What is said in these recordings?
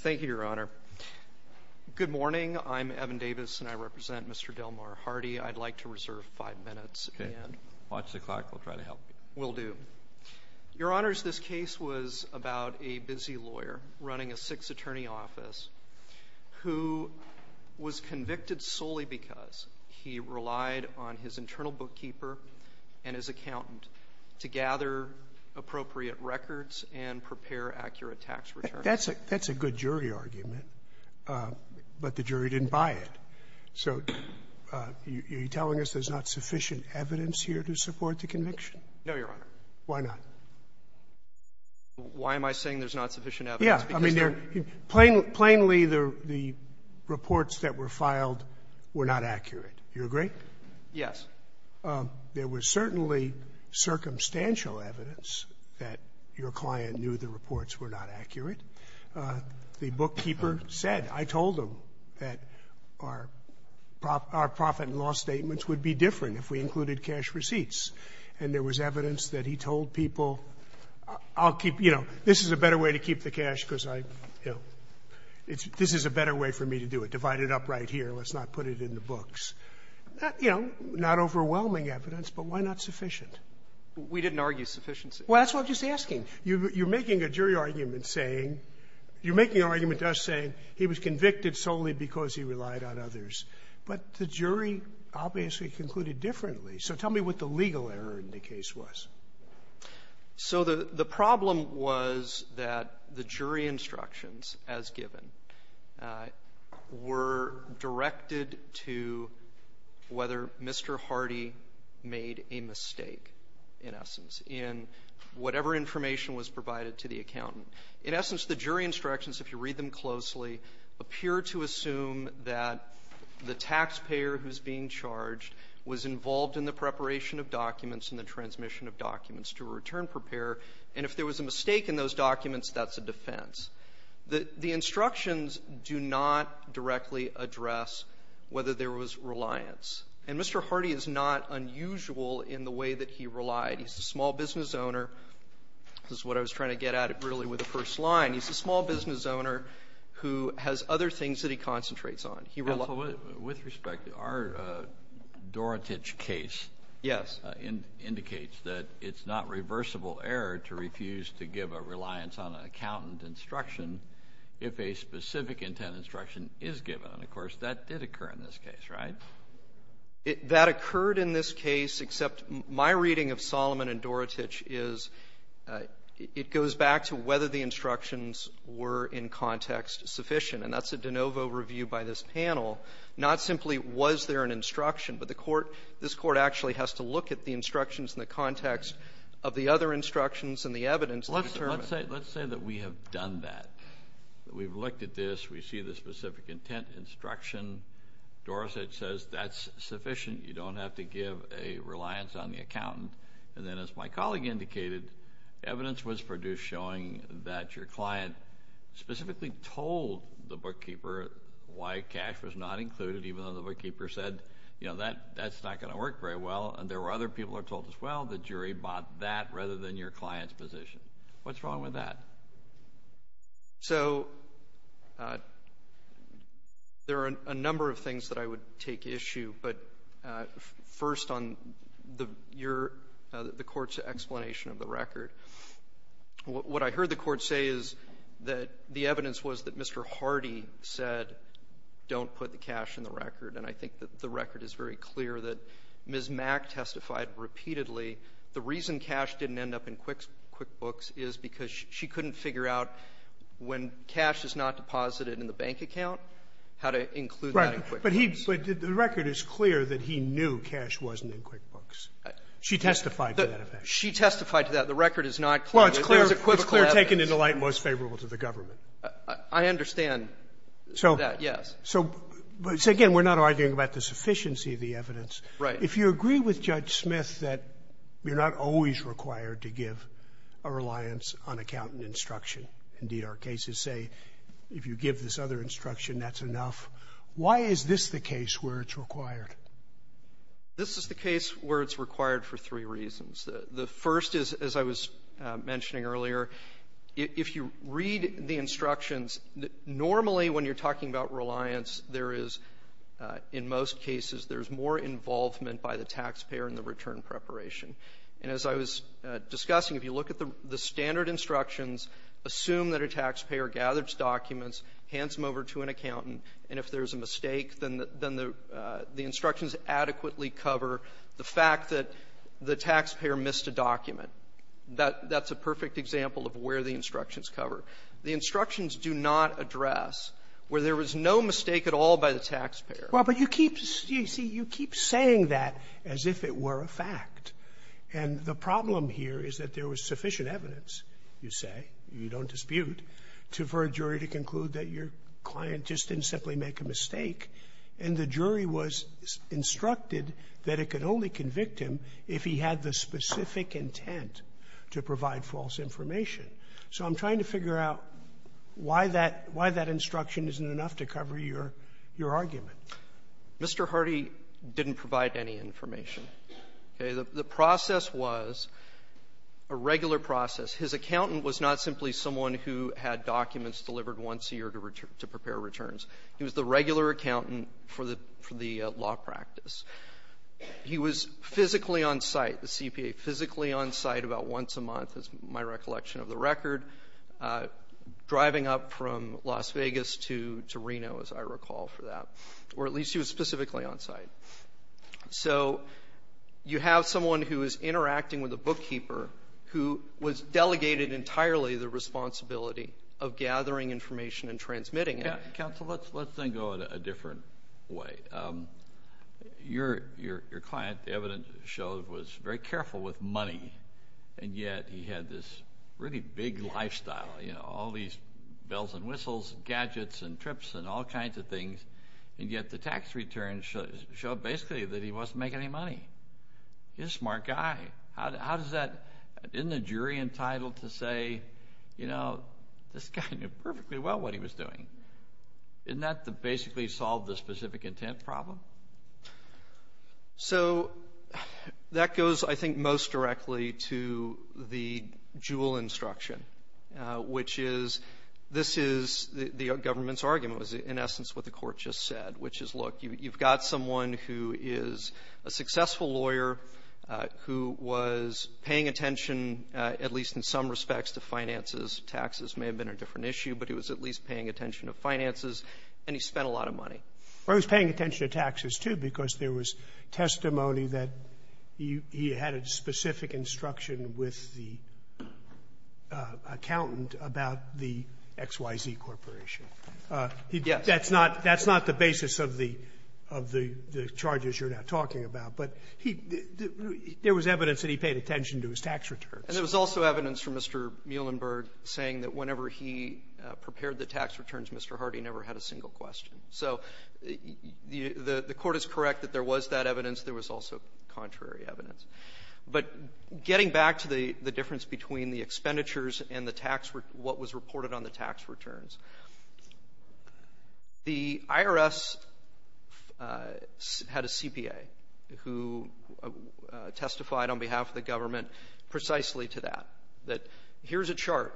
Thank you, Your Honor. Good morning. I'm Evan Davis and I represent Mr. Delmar Hardy. I'd like to reserve five minutes. Okay. Watch the clock. We'll try to help you. Will do. Your Honors, this case was about a busy lawyer running a six attorney office who was convicted solely because he relied on his internal bookkeeper and his accountant to gather appropriate records and prepare accurate tax returns. That's a good jury argument, but the jury didn't buy it. So are you telling us there's not sufficient evidence here to support the conviction? No, Your Honor. Why not? Why am I saying there's not sufficient evidence? Yeah. I mean, there are plainly the reports that were filed were not accurate. Do you agree? Yes. There was certainly circumstantial evidence that your client knew the reports were not accurate. The bookkeeper said, I told him, that our profit and loss statements would be different if we included cash receipts. And there was evidence that he told people, I'll keep, you know, this is a better way to keep the cash because I, you know, this is a better way for me to do it. Divide it up right here. Let's not put it in the books. You know, not overwhelming evidence, but why not sufficient? We didn't argue sufficiency. Well, that's what I'm just asking. You're making a jury argument saying, you're making an argument just saying he was convicted solely because he relied on others. But the jury obviously concluded differently. So tell me what the legal error in the case was. So the problem was that the jury instructions, as given, were directed to whether Mr. Hardy made a mistake in essence in whatever information was provided to the accountant. In essence, the jury instructions, if you read them closely, appear to assume that the taxpayer who's being charged was involved in the preparation of documents and the transmission of documents to a return preparer. And if there was a mistake in those documents, that's a defense. The instructions do not directly address whether there was reliance. And Mr. Hardy is not unusual in the way that he relied. He's a small business owner. This is what I was trying to get at, really, with the first line. He's a small business owner who has other things that he concentrates on. He relied — So with respect, our Dorotich case indicates that it's not reversible error to refuse to give a reliance on an accountant instruction if a specific intent instruction is given. And, of course, that did occur in this case, right? That occurred in this case, except my reading of Solomon and Dorotich is it goes back to whether the instructions were, in context, sufficient. And that's a de novo review by this panel, not simply was there an instruction. But the Court — this Court actually has to look at the instructions in the context of the other instructions and the evidence that was determined. Let's say — let's say that we have done that, that we've looked at this. We see the specific intent instruction. Dorotich says that's sufficient. You don't have to give a reliance on the accountant. And then, as my colleague indicated, evidence was produced showing that your client specifically told the bookkeeper why cash was not included, even though the bookkeeper said, you know, that's not going to work very well. And there were other people who were told, as well, the jury bought that rather than your client's position. What's wrong with that? So there are a number of things that I would take issue. But first, on the — your — the Court's explanation of the record, what I heard the Court say is that the evidence was that Mr. Hardy said, don't put the cash in the record, and I think that the record is very clear, that Ms. Mack testified repeatedly, the reason cash didn't end up in QuickBooks is because she couldn't figure out when cash is not deposited in the bank account how to include that in QuickBooks. But he — but the record is clear that he knew cash wasn't in QuickBooks. She testified to that. She testified to that. The record is not clear. Well, it's clear — it's clear taken into light most favorable to the government. I understand that, yes. So — so, again, we're not arguing about the sufficiency of the evidence. Right. If you agree with Judge Smith that you're not always required to give a reliance on accountant instruction, indeed, our cases say if you give this other instruction, that's enough. Why is this the case where it's required? This is the case where it's required for three reasons. The first is, as I was mentioning earlier, if you read the instructions, normally when you're talking about reliance, there is, in most cases, there's more involvement by the taxpayer in the return preparation. And as I was discussing, if you look at the standard instructions, assume that a taxpayer gathers documents, hands them over to an accountant, and if there's a mistake, then the instructions adequately cover the fact that the taxpayer missed a document. That's a perfect example of where the instructions cover. The instructions do not address where there is no mistake at all by the taxpayer. Well, but you keep — you see, you keep saying that as if it were a fact. And the problem here is that there was sufficient evidence, you say, you don't dispute, for a jury to conclude that your client just didn't simply make a mistake, and the jury was instructed that it could only convict him if he had the specific intent to provide false information. So I'm trying to figure out why that — why that instruction isn't enough to cover your — your argument. Mr. Hardy didn't provide any information. Okay? The process was a regular process. His accountant was not simply someone who had documents delivered once a year to prepare returns. He was the regular accountant for the — for the law practice. He was physically on-site, the CPA, physically on-site about once a month, as my recollection of the record, driving up from Las Vegas to Reno, as I recall, for that. Or at least he was specifically on-site. So you have someone who is interacting with a bookkeeper who was delegated entirely the responsibility of gathering information and transmitting it. Counsel, let's then go in a different way. Your — your client, the evidence shows, was very careful with money, and yet he had this really big lifestyle, you know, all these bells and whistles and gadgets and trips and all kinds of things, and yet the tax returns show — show basically that he wasn't making any money. He's a smart guy. How does that — isn't the jury entitled to say, you know, this guy knew perfectly well what he was doing? Isn't that to basically solve the specific intent problem? So that goes, I think, most directly to the Jewell instruction, which is this is the government's argument, in essence, what the Court just said, which is, look, you've got someone who is a successful lawyer who was paying attention, at least in some respects, to finances. Taxes may have been a different issue, but he was at least paying attention to finances, and he spent a lot of money. Or he was paying attention to taxes, too, because there was testimony that he — he had a specific instruction with the accountant about the XYZ Corporation. Yes. That's not — that's not the basis of the — of the charges you're now talking about. But he — there was evidence that he paid attention to his tax returns. And there was also evidence from Mr. Muhlenberg saying that whenever he prepared the tax returns, Mr. Hardy never had a single question. So the Court is correct that there was that evidence. There was also contrary evidence. But getting back to the difference between the expenditures and the tax — what was reported on the tax returns, the IRS had a CPA who testified on behalf of the government precisely to that, that here's a chart.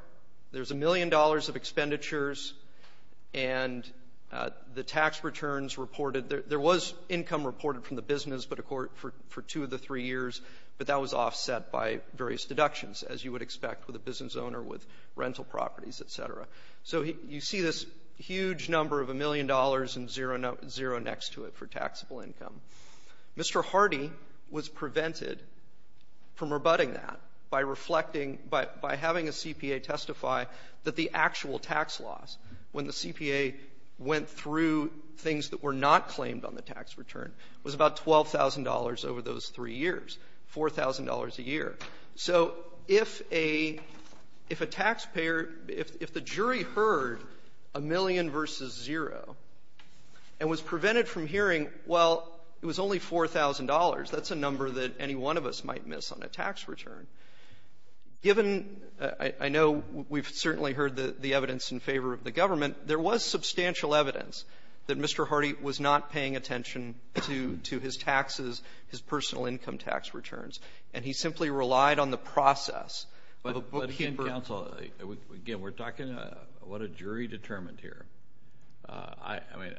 There's a million dollars of expenditures, and the tax returns reported — there was income reported from the business, but, of course, for two of the three years, but that was offset by various deductions, as you would expect with a business owner with rental properties, et cetera. So you see this huge number of a million dollars and zero next to it for taxable income. Mr. Hardy was prevented from rebutting that by reflecting — by having a CPA testify that the actual tax loss, when the CPA went through things that were not claimed on the tax return, was about $12,000 over those three years, $4,000 a year. So if a — if a taxpayer — if the jury heard a million versus zero and was prevented from hearing, well, it was only $4,000, that's a number that any one of us might miss on a tax return. Given — I know we've certainly heard the evidence in favor of the government. There was substantial evidence that Mr. Hardy was not paying attention to his taxes, his personal income tax returns, and he simply relied on the process. But he never — Kennedy, counsel, again, we're talking what a jury determined here. I mean,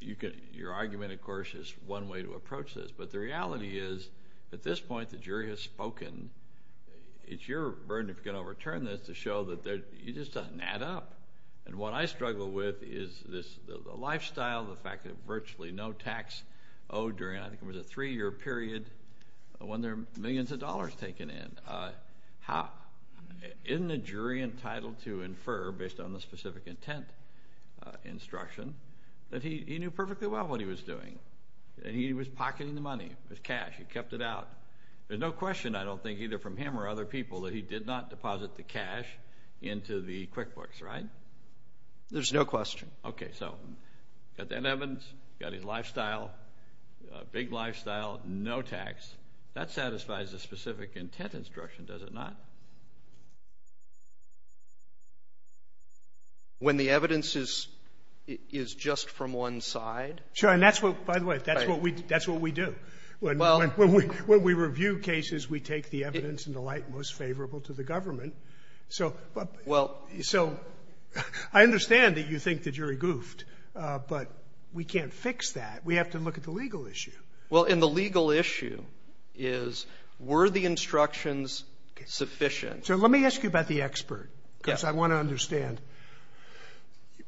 you could — your argument, of course, is one way to approach this. But the reality is, at this point, the jury has spoken. It's your burden, if you're going to overturn this, to show that you just don't add up. And what I struggle with is this — the lifestyle, the fact that virtually no tax owed during, I think it was a three-year period, when there are millions of dollars taken in. Isn't a jury entitled to infer, based on the specific intent instruction, that he knew perfectly well what he was doing, that he was pocketing the money, his cash, he kept it out? There's no question, I don't think, either from him or other people, that he did not deposit the cash into the QuickBooks, right? There's no question. Okay. So, got that evidence, got his lifestyle, big lifestyle, no tax. That satisfies the specific intent instruction, does it not? When the evidence is — is just from one side. Sure. And that's what — by the way, that's what we — that's what we do. Well — When we — when we review cases, we take the evidence in the light most favorable to the government. So — Well — So I understand that you think the jury goofed, but we can't fix that. We have to look at the legal issue. Well, and the legal issue is, were the instructions sufficient? So let me ask you about the expert. Yes. Because I want to understand.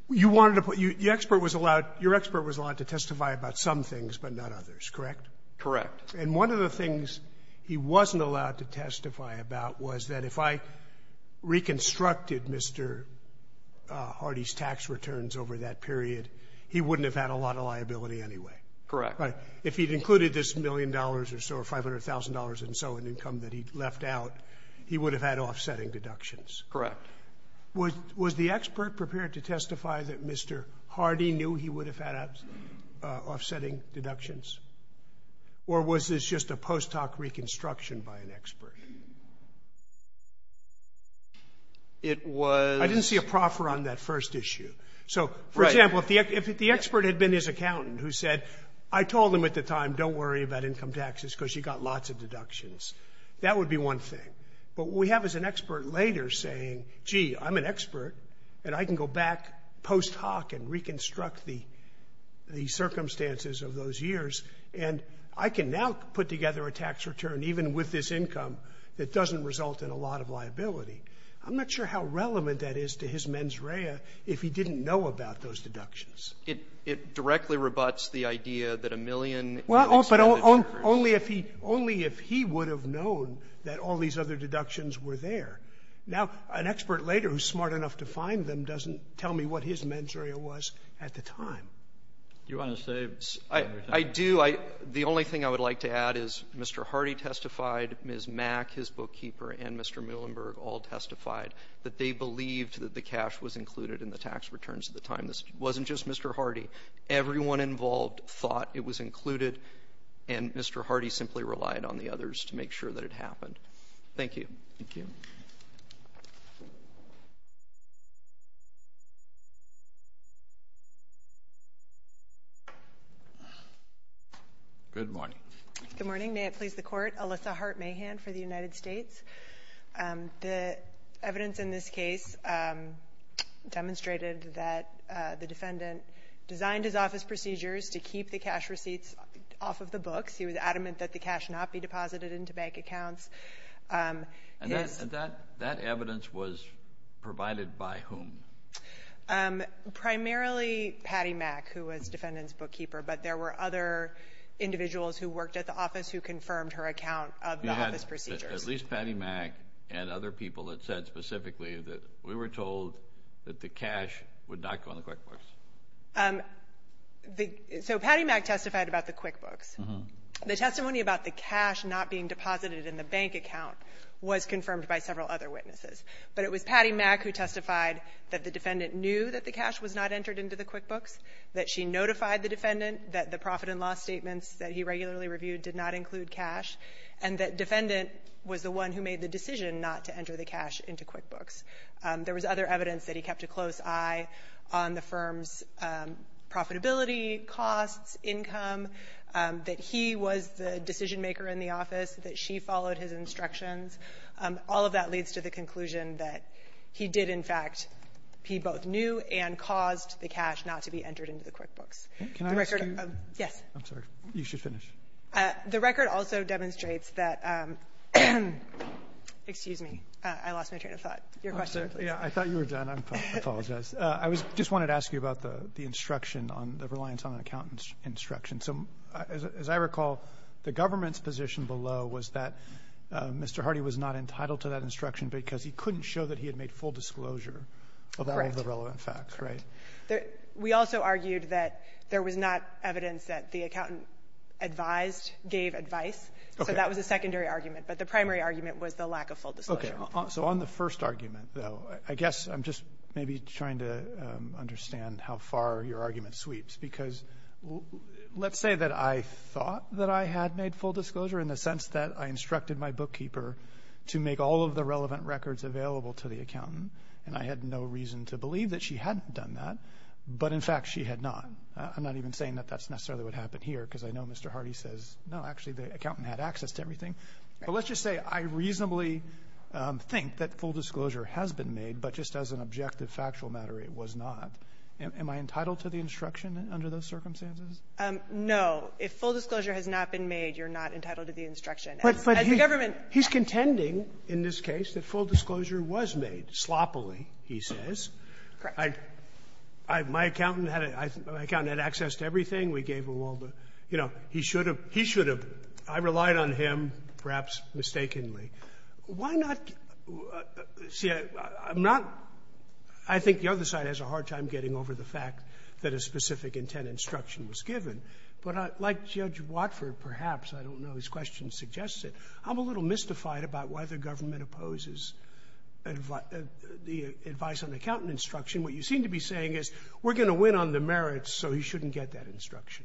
You wanted to put — the expert was allowed — your expert was allowed to testify about some things, but not others, correct? Correct. And one of the things he wasn't allowed to testify about was that if I reconstructed Mr. Hardy's tax returns over that period, he wouldn't have had a lot of liability anyway. Correct. If he'd included this million dollars or so or $500,000 and so in income that he left out, he would have had offsetting deductions. Correct. Was the expert prepared to testify that Mr. Hardy knew he would have had offsetting deductions? Or was this just a post hoc reconstruction by an expert? It was — I didn't see a proffer on that first issue. So, for example, if the expert had been his accountant who said, I told him at the time, don't worry about income taxes because you got lots of deductions, that would be one thing. But what we have is an expert later saying, gee, I'm an expert, and I can go back post hoc and reconstruct the — the circumstances of those years, and I can now put together a tax return, even with this income, that doesn't result in a lot of liability. I'm not sure how relevant that is to his mens rea if he didn't know about those deductions. It — it directly rebuts the idea that a million — Well, but only if he — only if he would have known that all these other deductions were there. Now, an expert later who's smart enough to find them doesn't tell me what his mens rea was at the time. Do you want to say — I do. I — the only thing I would like to add is Mr. Hardy testified, Ms. Mack, his bookkeeper, and Mr. Muhlenberg all testified that they believed that the cash was included in the tax returns at the time. This wasn't just Mr. Hardy. Everyone involved thought it was included, and Mr. Hardy simply relied on the others to make sure that it happened. Thank you. Thank you. Good morning. Good morning. May it please the Court. Alyssa Hart Mahan for the United States. The evidence in this case demonstrated that the defendant designed his office procedures to keep the cash receipts off of the books. He was adamant that the cash not be deposited into bank accounts. And that evidence was provided by whom? Primarily Patty Mack, who was defendant's bookkeeper. But there were other individuals who worked at the office who confirmed her account of the office procedures. At least Patty Mack and other people that said specifically that we were told that the cash would not go in the QuickBooks. So Patty Mack testified about the QuickBooks. The testimony about the cash not being deposited in the bank account was confirmed by several other witnesses. But it was Patty Mack who testified that the defendant knew that the cash was not entered into the QuickBooks, that she notified the defendant that the profit and loss statements that he regularly reviewed did not include cash, and that defendant was the one who made the decision not to enter the cash into QuickBooks. There was other evidence that he kept a close eye on the firm's profitability, costs, income, that he was the decision-maker in the office, that she followed his instructions. All of that leads to the conclusion that he did, in fact, he both knew and caused the cash not to be entered into the QuickBooks. The record of the record of the record of the record of the record of the record You should finish. The record also demonstrates that Excuse me. I lost my train of thought. Your question, please. I thought you were done. I apologize. I was just wanted to ask you about the instruction on the reliance on an accountant's instruction. So as I recall, the government's position below was that Mr. Hardy was not entitled to that instruction because he couldn't show that he had made full disclosure of all of the relevant facts. Right. We also argued that there was not evidence that the accountant advised, gave advice. Okay. So that was a secondary argument. But the primary argument was the lack of full disclosure. Okay. So on the first argument, though, I guess I'm just maybe trying to understand how far your argument sweeps. Because let's say that I thought that I had made full disclosure in the sense that I instructed my bookkeeper to make all of the relevant records available to the But in fact, she had not. I'm not even saying that that's necessarily what happened here, because I know Mr. Hardy says, no, actually, the accountant had access to everything. But let's just say I reasonably think that full disclosure has been made, but just as an objective factual matter, it was not. Am I entitled to the instruction under those circumstances? No. If full disclosure has not been made, you're not entitled to the instruction. As the government ---- But he's contending in this case that full disclosure was made sloppily, he says. Correct. I ---- my accountant had access to everything. We gave him all the ---- you know, he should have. He should have. I relied on him, perhaps mistakenly. Why not ---- see, I'm not ---- I think the other side has a hard time getting over the fact that a specific intent instruction was given. But like Judge Watford, perhaps, I don't know, his question suggests it, I'm a little mystified about why the government opposes the advice on the accountant instruction. What you seem to be saying is, we're going to win on the merits, so he shouldn't get that instruction.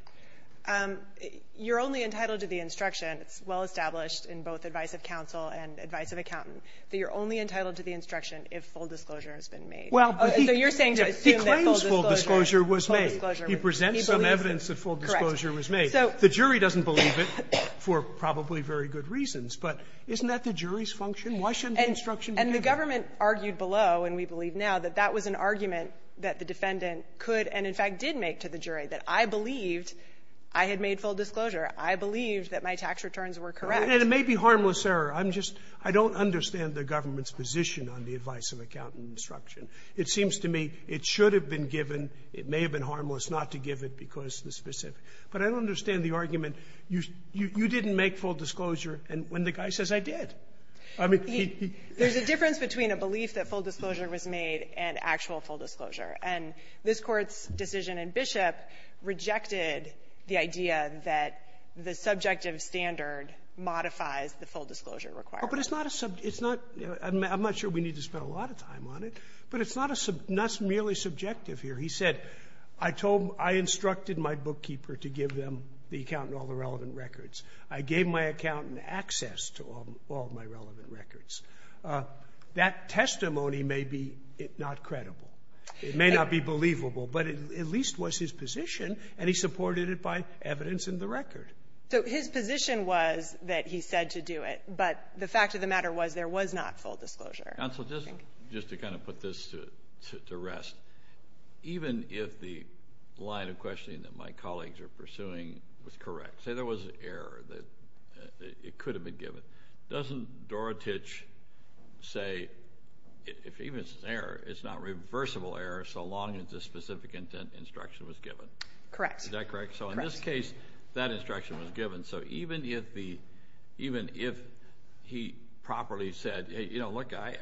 You're only entitled to the instruction, it's well established in both advice of counsel and advice of accountant, that you're only entitled to the instruction if full disclosure has been made. Well, but he ---- So you're saying to assume that full disclosure ---- He claims full disclosure was made. He presents some evidence that full disclosure was made. Correct. So ---- Isn't that the jury's function? Why shouldn't the instruction be given? And the government argued below, and we believe now, that that was an argument that the defendant could and, in fact, did make to the jury, that I believed I had made full disclosure. I believed that my tax returns were correct. And it may be harmless error. I'm just ---- I don't understand the government's position on the advice of accountant instruction. It seems to me it should have been given. But I don't understand the argument. You didn't make full disclosure when the guy says, I did. I mean, he ---- There's a difference between a belief that full disclosure was made and actual full disclosure. And this Court's decision in Bishop rejected the idea that the subjective standard modifies the full disclosure requirement. But it's not a sub ---- it's not ---- I'm not sure we need to spend a lot of time on it. But it's not a sub ---- not merely subjective here. He said, I told them ---- I instructed my bookkeeper to give them, the accountant all the relevant records. I gave my accountant access to all of my relevant records. That testimony may be not credible. It may not be believable. But it at least was his position, and he supported it by evidence in the record. So his position was that he said to do it. But the fact of the matter was, there was not full disclosure. Counsel, just to kind of put this to rest, even if the line of questioning that my colleagues are pursuing was correct, say there was an error that it could have been given, doesn't Dorotich say, if even it's an error, it's not reversible error so long as a specific intent instruction was given? Correct. Is that correct? So in this case, that instruction was given. So even if the, even if he properly said, you know, look, I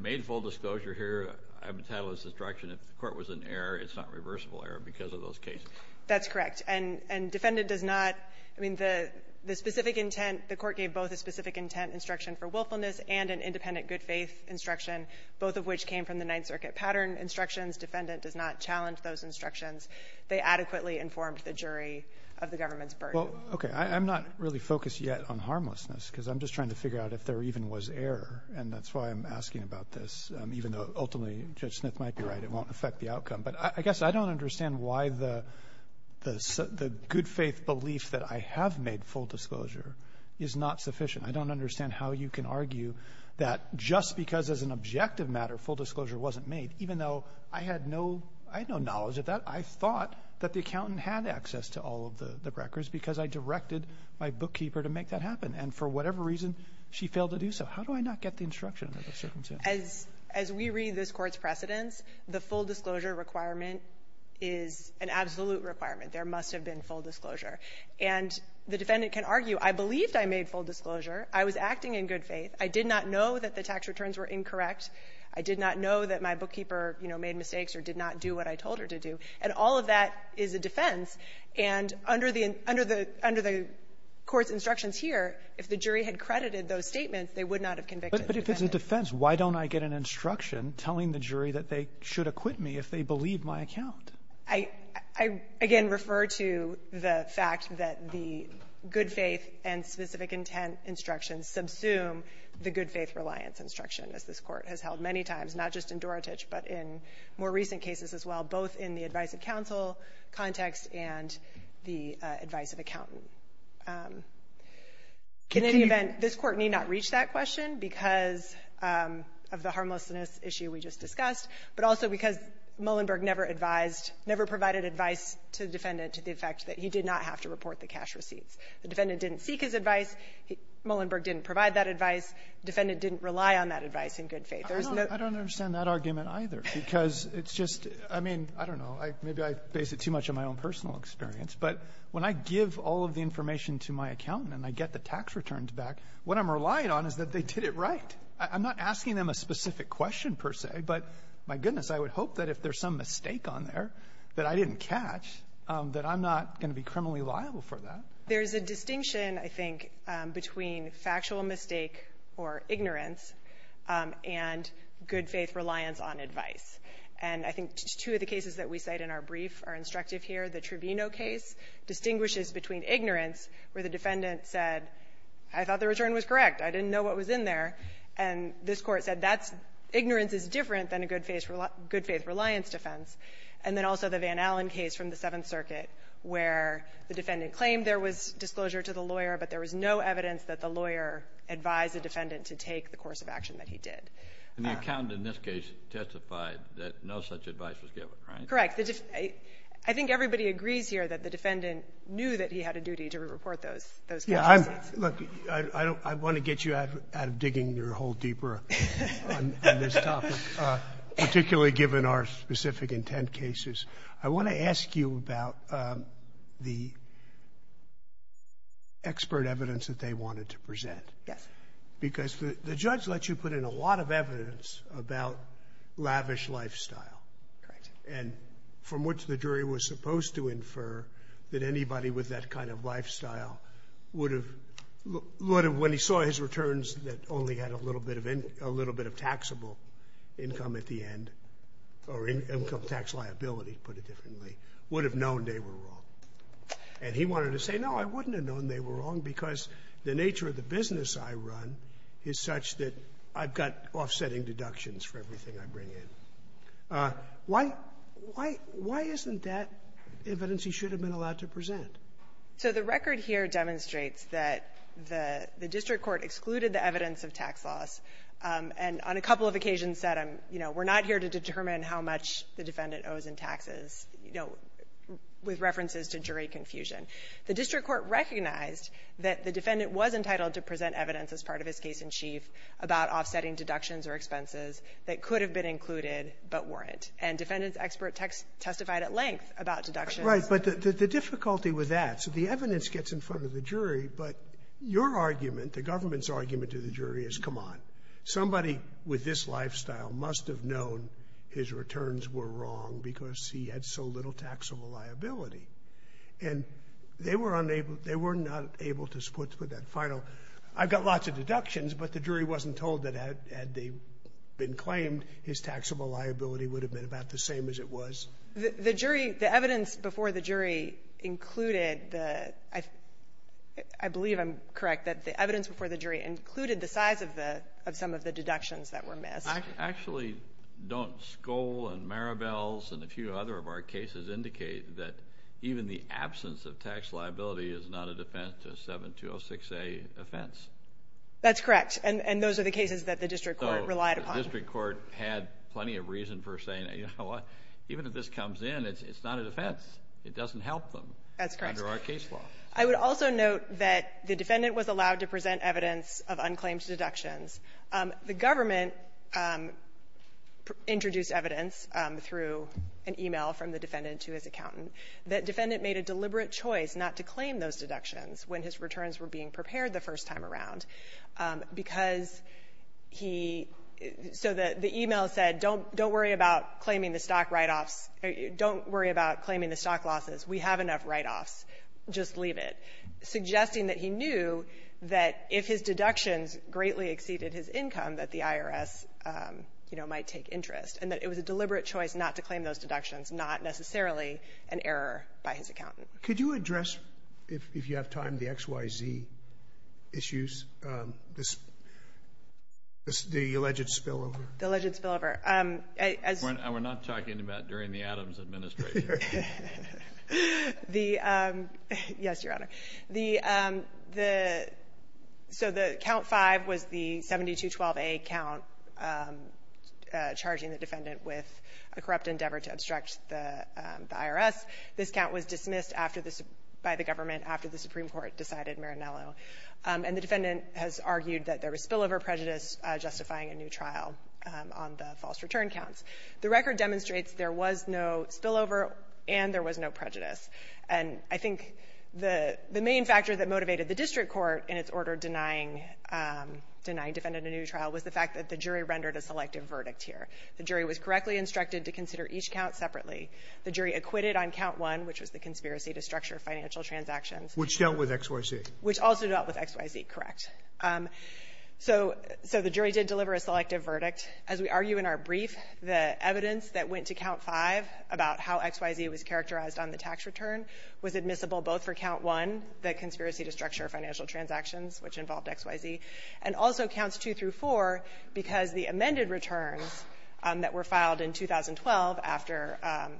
made full disclosure here, I have a titleless instruction. Even if the court was in error, it's not reversible error because of those cases. That's correct. And defendant does not, I mean, the specific intent, the court gave both a specific intent instruction for willfulness and an independent good faith instruction, both of which came from the Ninth Circuit pattern instructions. Defendant does not challenge those instructions. They adequately informed the jury of the government's burden. Well, okay. I'm not really focused yet on harmlessness, because I'm just trying to figure out if there even was error. And that's why I'm asking about this, even though ultimately Judge Smith might be right. It won't affect the outcome. But I guess I don't understand why the good faith belief that I have made full disclosure is not sufficient. I don't understand how you can argue that just because as an objective matter full disclosure wasn't made, even though I had no, I had no knowledge of that, I thought that the accountant had access to all of the records because I directed my bookkeeper to make that happen. And for whatever reason, she failed to do so. How do I not get the instruction under those circumstances? As we read this Court's precedents, the full disclosure requirement is an absolute requirement. There must have been full disclosure. And the defendant can argue, I believed I made full disclosure, I was acting in good faith, I did not know that the tax returns were incorrect, I did not know that my bookkeeper, you know, made mistakes or did not do what I told her to do, and all of that is a defense. And under the court's instructions here, if the jury had credited those statements, they would not have convicted the defendant. But if it's a defense, why don't I get an instruction telling the jury that they should acquit me if they believe my account? I, again, refer to the fact that the good faith and specific intent instructions subsume the good faith reliance instruction, as this Court has held many times, not just in Dorotich, but in more recent cases as well, both in the advice-of-counsel context and the advice-of-accountant. In any event, this Court need not reach that question because of the harmlessness issue we just discussed, but also because Mullenberg never advised, never provided advice to the defendant to the effect that he did not have to report the cash receipts. The defendant didn't seek his advice. Mullenberg didn't provide that advice. The defendant didn't rely on that advice in good faith. There's no ---- Roberts, I don't understand that argument, either, because it's just, I mean, I don't know, maybe I base it too much on my own personal experience. But when I give all of the information to my accountant and I get the tax returns back, what I'm relying on is that they did it right. I'm not asking them a specific question, per se, but, my goodness, I would hope that if there's some mistake on there that I didn't catch, that I'm not going to be criminally liable for that. There's a distinction, I think, between factual mistake or ignorance and good faith reliance on advice. And I think two of the cases that we cite in our brief are instructive here. The Trevino case distinguishes between ignorance, where the defendant said, I thought the return was correct, I didn't know what was in there, and this Court said that's ignorance is different than a good faith reliance defense. And then also the Van Allen case from the Seventh Circuit, where the defendant claimed there was disclosure to the lawyer, but there was no evidence that the lawyer advised the defendant to take the course of action that he did. And the accountant in this case testified that no such advice was given, right? Correct. I think everybody agrees here that the defendant knew that he had a duty to report those, those factual mistakes. Look, I want to get you out of digging your hole deeper on this topic, particularly given our specific intent cases. I want to ask you about the expert evidence that they wanted to present. Yes. Because the judge lets you put in a lot of evidence about lavish lifestyle. Correct. And from what the jury was supposed to infer, that anybody with that kind of lifestyle would have, would have, when he saw his returns that only had a little bit of, a little bit of taxable income at the end, or income tax liability, to put it differently, would have known they were wrong. And he wanted to say, no, I wouldn't have known they were wrong because the nature of the business I run is such that I've got offsetting deductions for everything I bring in. Why, why, why isn't that evidence he should have been allowed to present? So the record here demonstrates that the, the district court excluded the evidence of tax loss. And on a couple of occasions said, you know, we're not here to determine how much the defendant owes in taxes, you know, with references to jury confusion. The district court recognized that the defendant was entitled to present evidence as part of his case-in-chief about offsetting deductions or expenses that could have been included but weren't. And defendant's expert testified at length about deductions. Scalia. Right. But the, the difficulty with that, so the evidence gets in front of the jury, but your argument, the government's argument to the jury is, come on, somebody with this lifestyle must have known his returns were wrong because he had so little taxable liability. And they were unable, they were not able to put that final, I've got lots of deductions, but the jury wasn't told that had they been claimed, his taxable liability would have been about the same as it was. The, the jury, the evidence before the jury included the, I, I believe I'm correct, that the evidence before the jury included the size of the, of some of the deductions that were missed. Actually, don't Skoll and Marabels and a few other of our cases indicate that even the absence of tax liability is not a defense to a 7206A offense? That's correct. And, and those are the cases that the district court relied upon. So the district court had plenty of reason for saying, you know what, even if this comes in, it's, it's not a defense. It doesn't help them. That's correct. Under our case law. I would also note that the defendant was allowed to present evidence of unclaimed deductions. The government introduced evidence through an e-mail from the defendant to his accountant that defendant made a deliberate choice not to claim those deductions when his returns were being prepared the first time around, because he so that the e-mail said, don't, don't worry about claiming the stock write-offs. Don't worry about claiming the stock losses. We have enough write-offs. Just leave it. Suggesting that he knew that if his deductions greatly exceeded his income, that the IRS, you know, might take interest. And that it was a deliberate choice not to claim those deductions, not necessarily an error by his accountant. Could you address, if you have time, the XYZ issues, this, the alleged spillover? The alleged spillover. As we're not talking about during the Adams administration. The, yes, Your Honor. The, the, so the count 5 was the 7212A count charging the defendant with a corrupt endeavor to obstruct the IRS. This count was dismissed after the, by the government after the Supreme Court decided Marinello. And the defendant has argued that there was spillover prejudice justifying a new trial on the false return counts. The record demonstrates there was no spillover and there was no prejudice. And I think the, the main factor that motivated the district court in its order denying, denying defendant a new trial was the fact that the jury rendered a selective verdict here. The jury was correctly instructed to consider each count separately. The jury acquitted on count 1, which was the conspiracy to structure financial transactions. Which dealt with XYZ. Which also dealt with XYZ, correct. So, so the jury did deliver a selective verdict. As we argue in our brief, the evidence that went to count 5 about how XYZ was characterized on the tax return was admissible both for count 1, the conspiracy to structure financial transactions, which involved XYZ, and also counts 2 through 4 because the amended returns that were filed in 2012 after,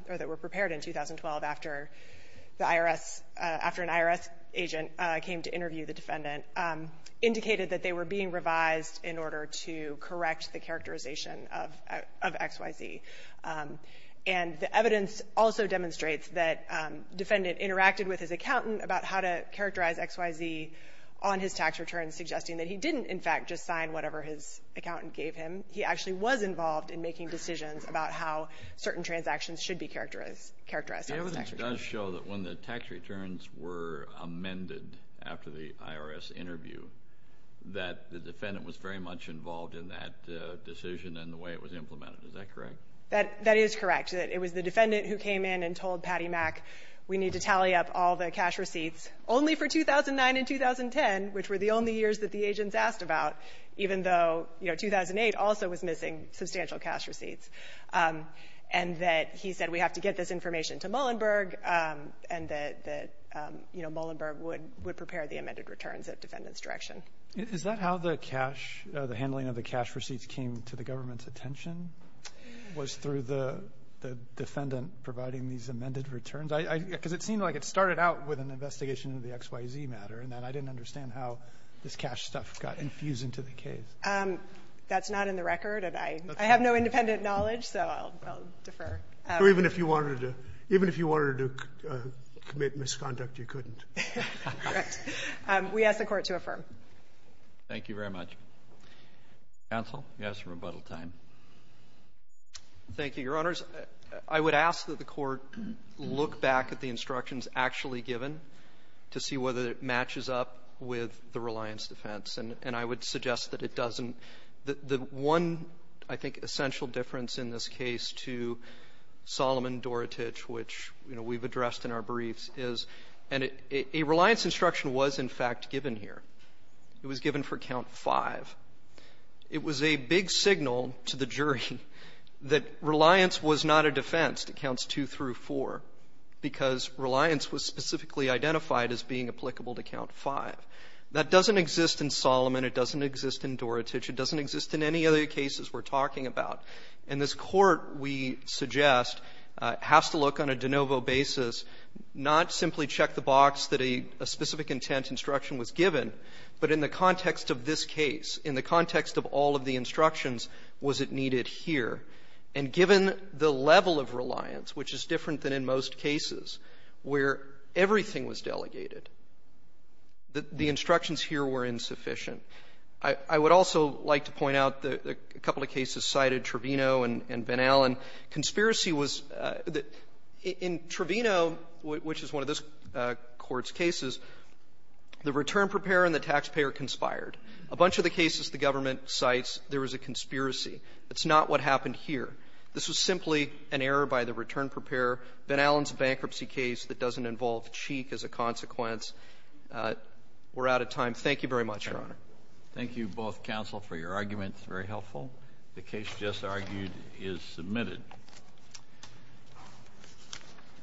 or that were prepared in 2012 after the IRS, after an IRS agent came to interview the defendant, indicated that they were being revised in order to correct the characterization of, of XYZ. And the evidence also demonstrates that defendant interacted with his accountant about how to characterize XYZ on his tax return, suggesting that he didn't, in fact, just sign whatever his accountant gave him. He actually was involved in making decisions about how certain transactions should be characterized, characterized on his tax return. The evidence does show that when the tax returns were amended after the IRS interview, that the defendant was very much involved in that decision and the way it was implemented. Is that correct? That, that is correct. It, it was the defendant who came in and told Patty Mack, we need to tally up all the cash receipts, only for 2009 and 2010, which were the only years that the agents asked about, even though, you know, 2008 also was missing substantial cash receipts. And that he said, we have to get this information to Mullenberg, and that, that, you know, Mullenberg would, would prepare the amended returns at the defendant's direction. Is that how the cash, the handling of the cash receipts came to the government's attention, was through the, the defendant providing these amended returns? I, I, because it seemed like it started out with an investigation of the XYZ matter, and then I didn't understand how this cash stuff got infused into the case. That's not in the record, and I, I have no independent knowledge, so I'll, I'll defer. Even if you wanted to, even if you wanted to commit misconduct, you couldn't. Correct. We ask the Court to affirm. Thank you very much. Counsel? Yes, rebuttal time. Thank you, Your Honors. I would ask that the Court look back at the instructions actually given to see whether it matches up with the reliance defense. And, and I would suggest that it doesn't. The, the one, I think, essential difference in this case to Solomon Dorotich, which, you know, we've addressed in our briefs, is, and it, a reliance instruction was, in fact, given here. It was given for Count 5. It was a big signal to the jury that reliance was not a defense to Counts 2 through 4, because reliance was specifically identified as being applicable to Count 5. That doesn't exist in Solomon. It doesn't exist in Dorotich. It doesn't exist in any other cases we're talking about. And this Court, we suggest, has to look on a de novo basis, not simply check the box that a, a specific intent instruction was given, but in the context of this case, in the context of all of the instructions, was it needed here? And given the level of reliance, which is different than in most cases, where everything was delegated, the instructions here were insufficient. I, I would also like to point out that a couple of cases cited Trevino and, and Van Allen. Conspiracy was that in Trevino, which is one of this Court's cases, the return preparer and the taxpayer conspired. A bunch of the cases the government cites, there was a conspiracy. That's not what happened here. This was simply an error by the return preparer. Van Allen's bankruptcy case that doesn't involve Cheek as a consequence. We're out of time. Thank you very much, Your Honor. Thank you both, counsel, for your arguments. Very helpful. The case just argued is submitted.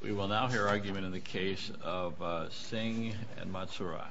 We will now hear argument in the case of Singh and Matsuura.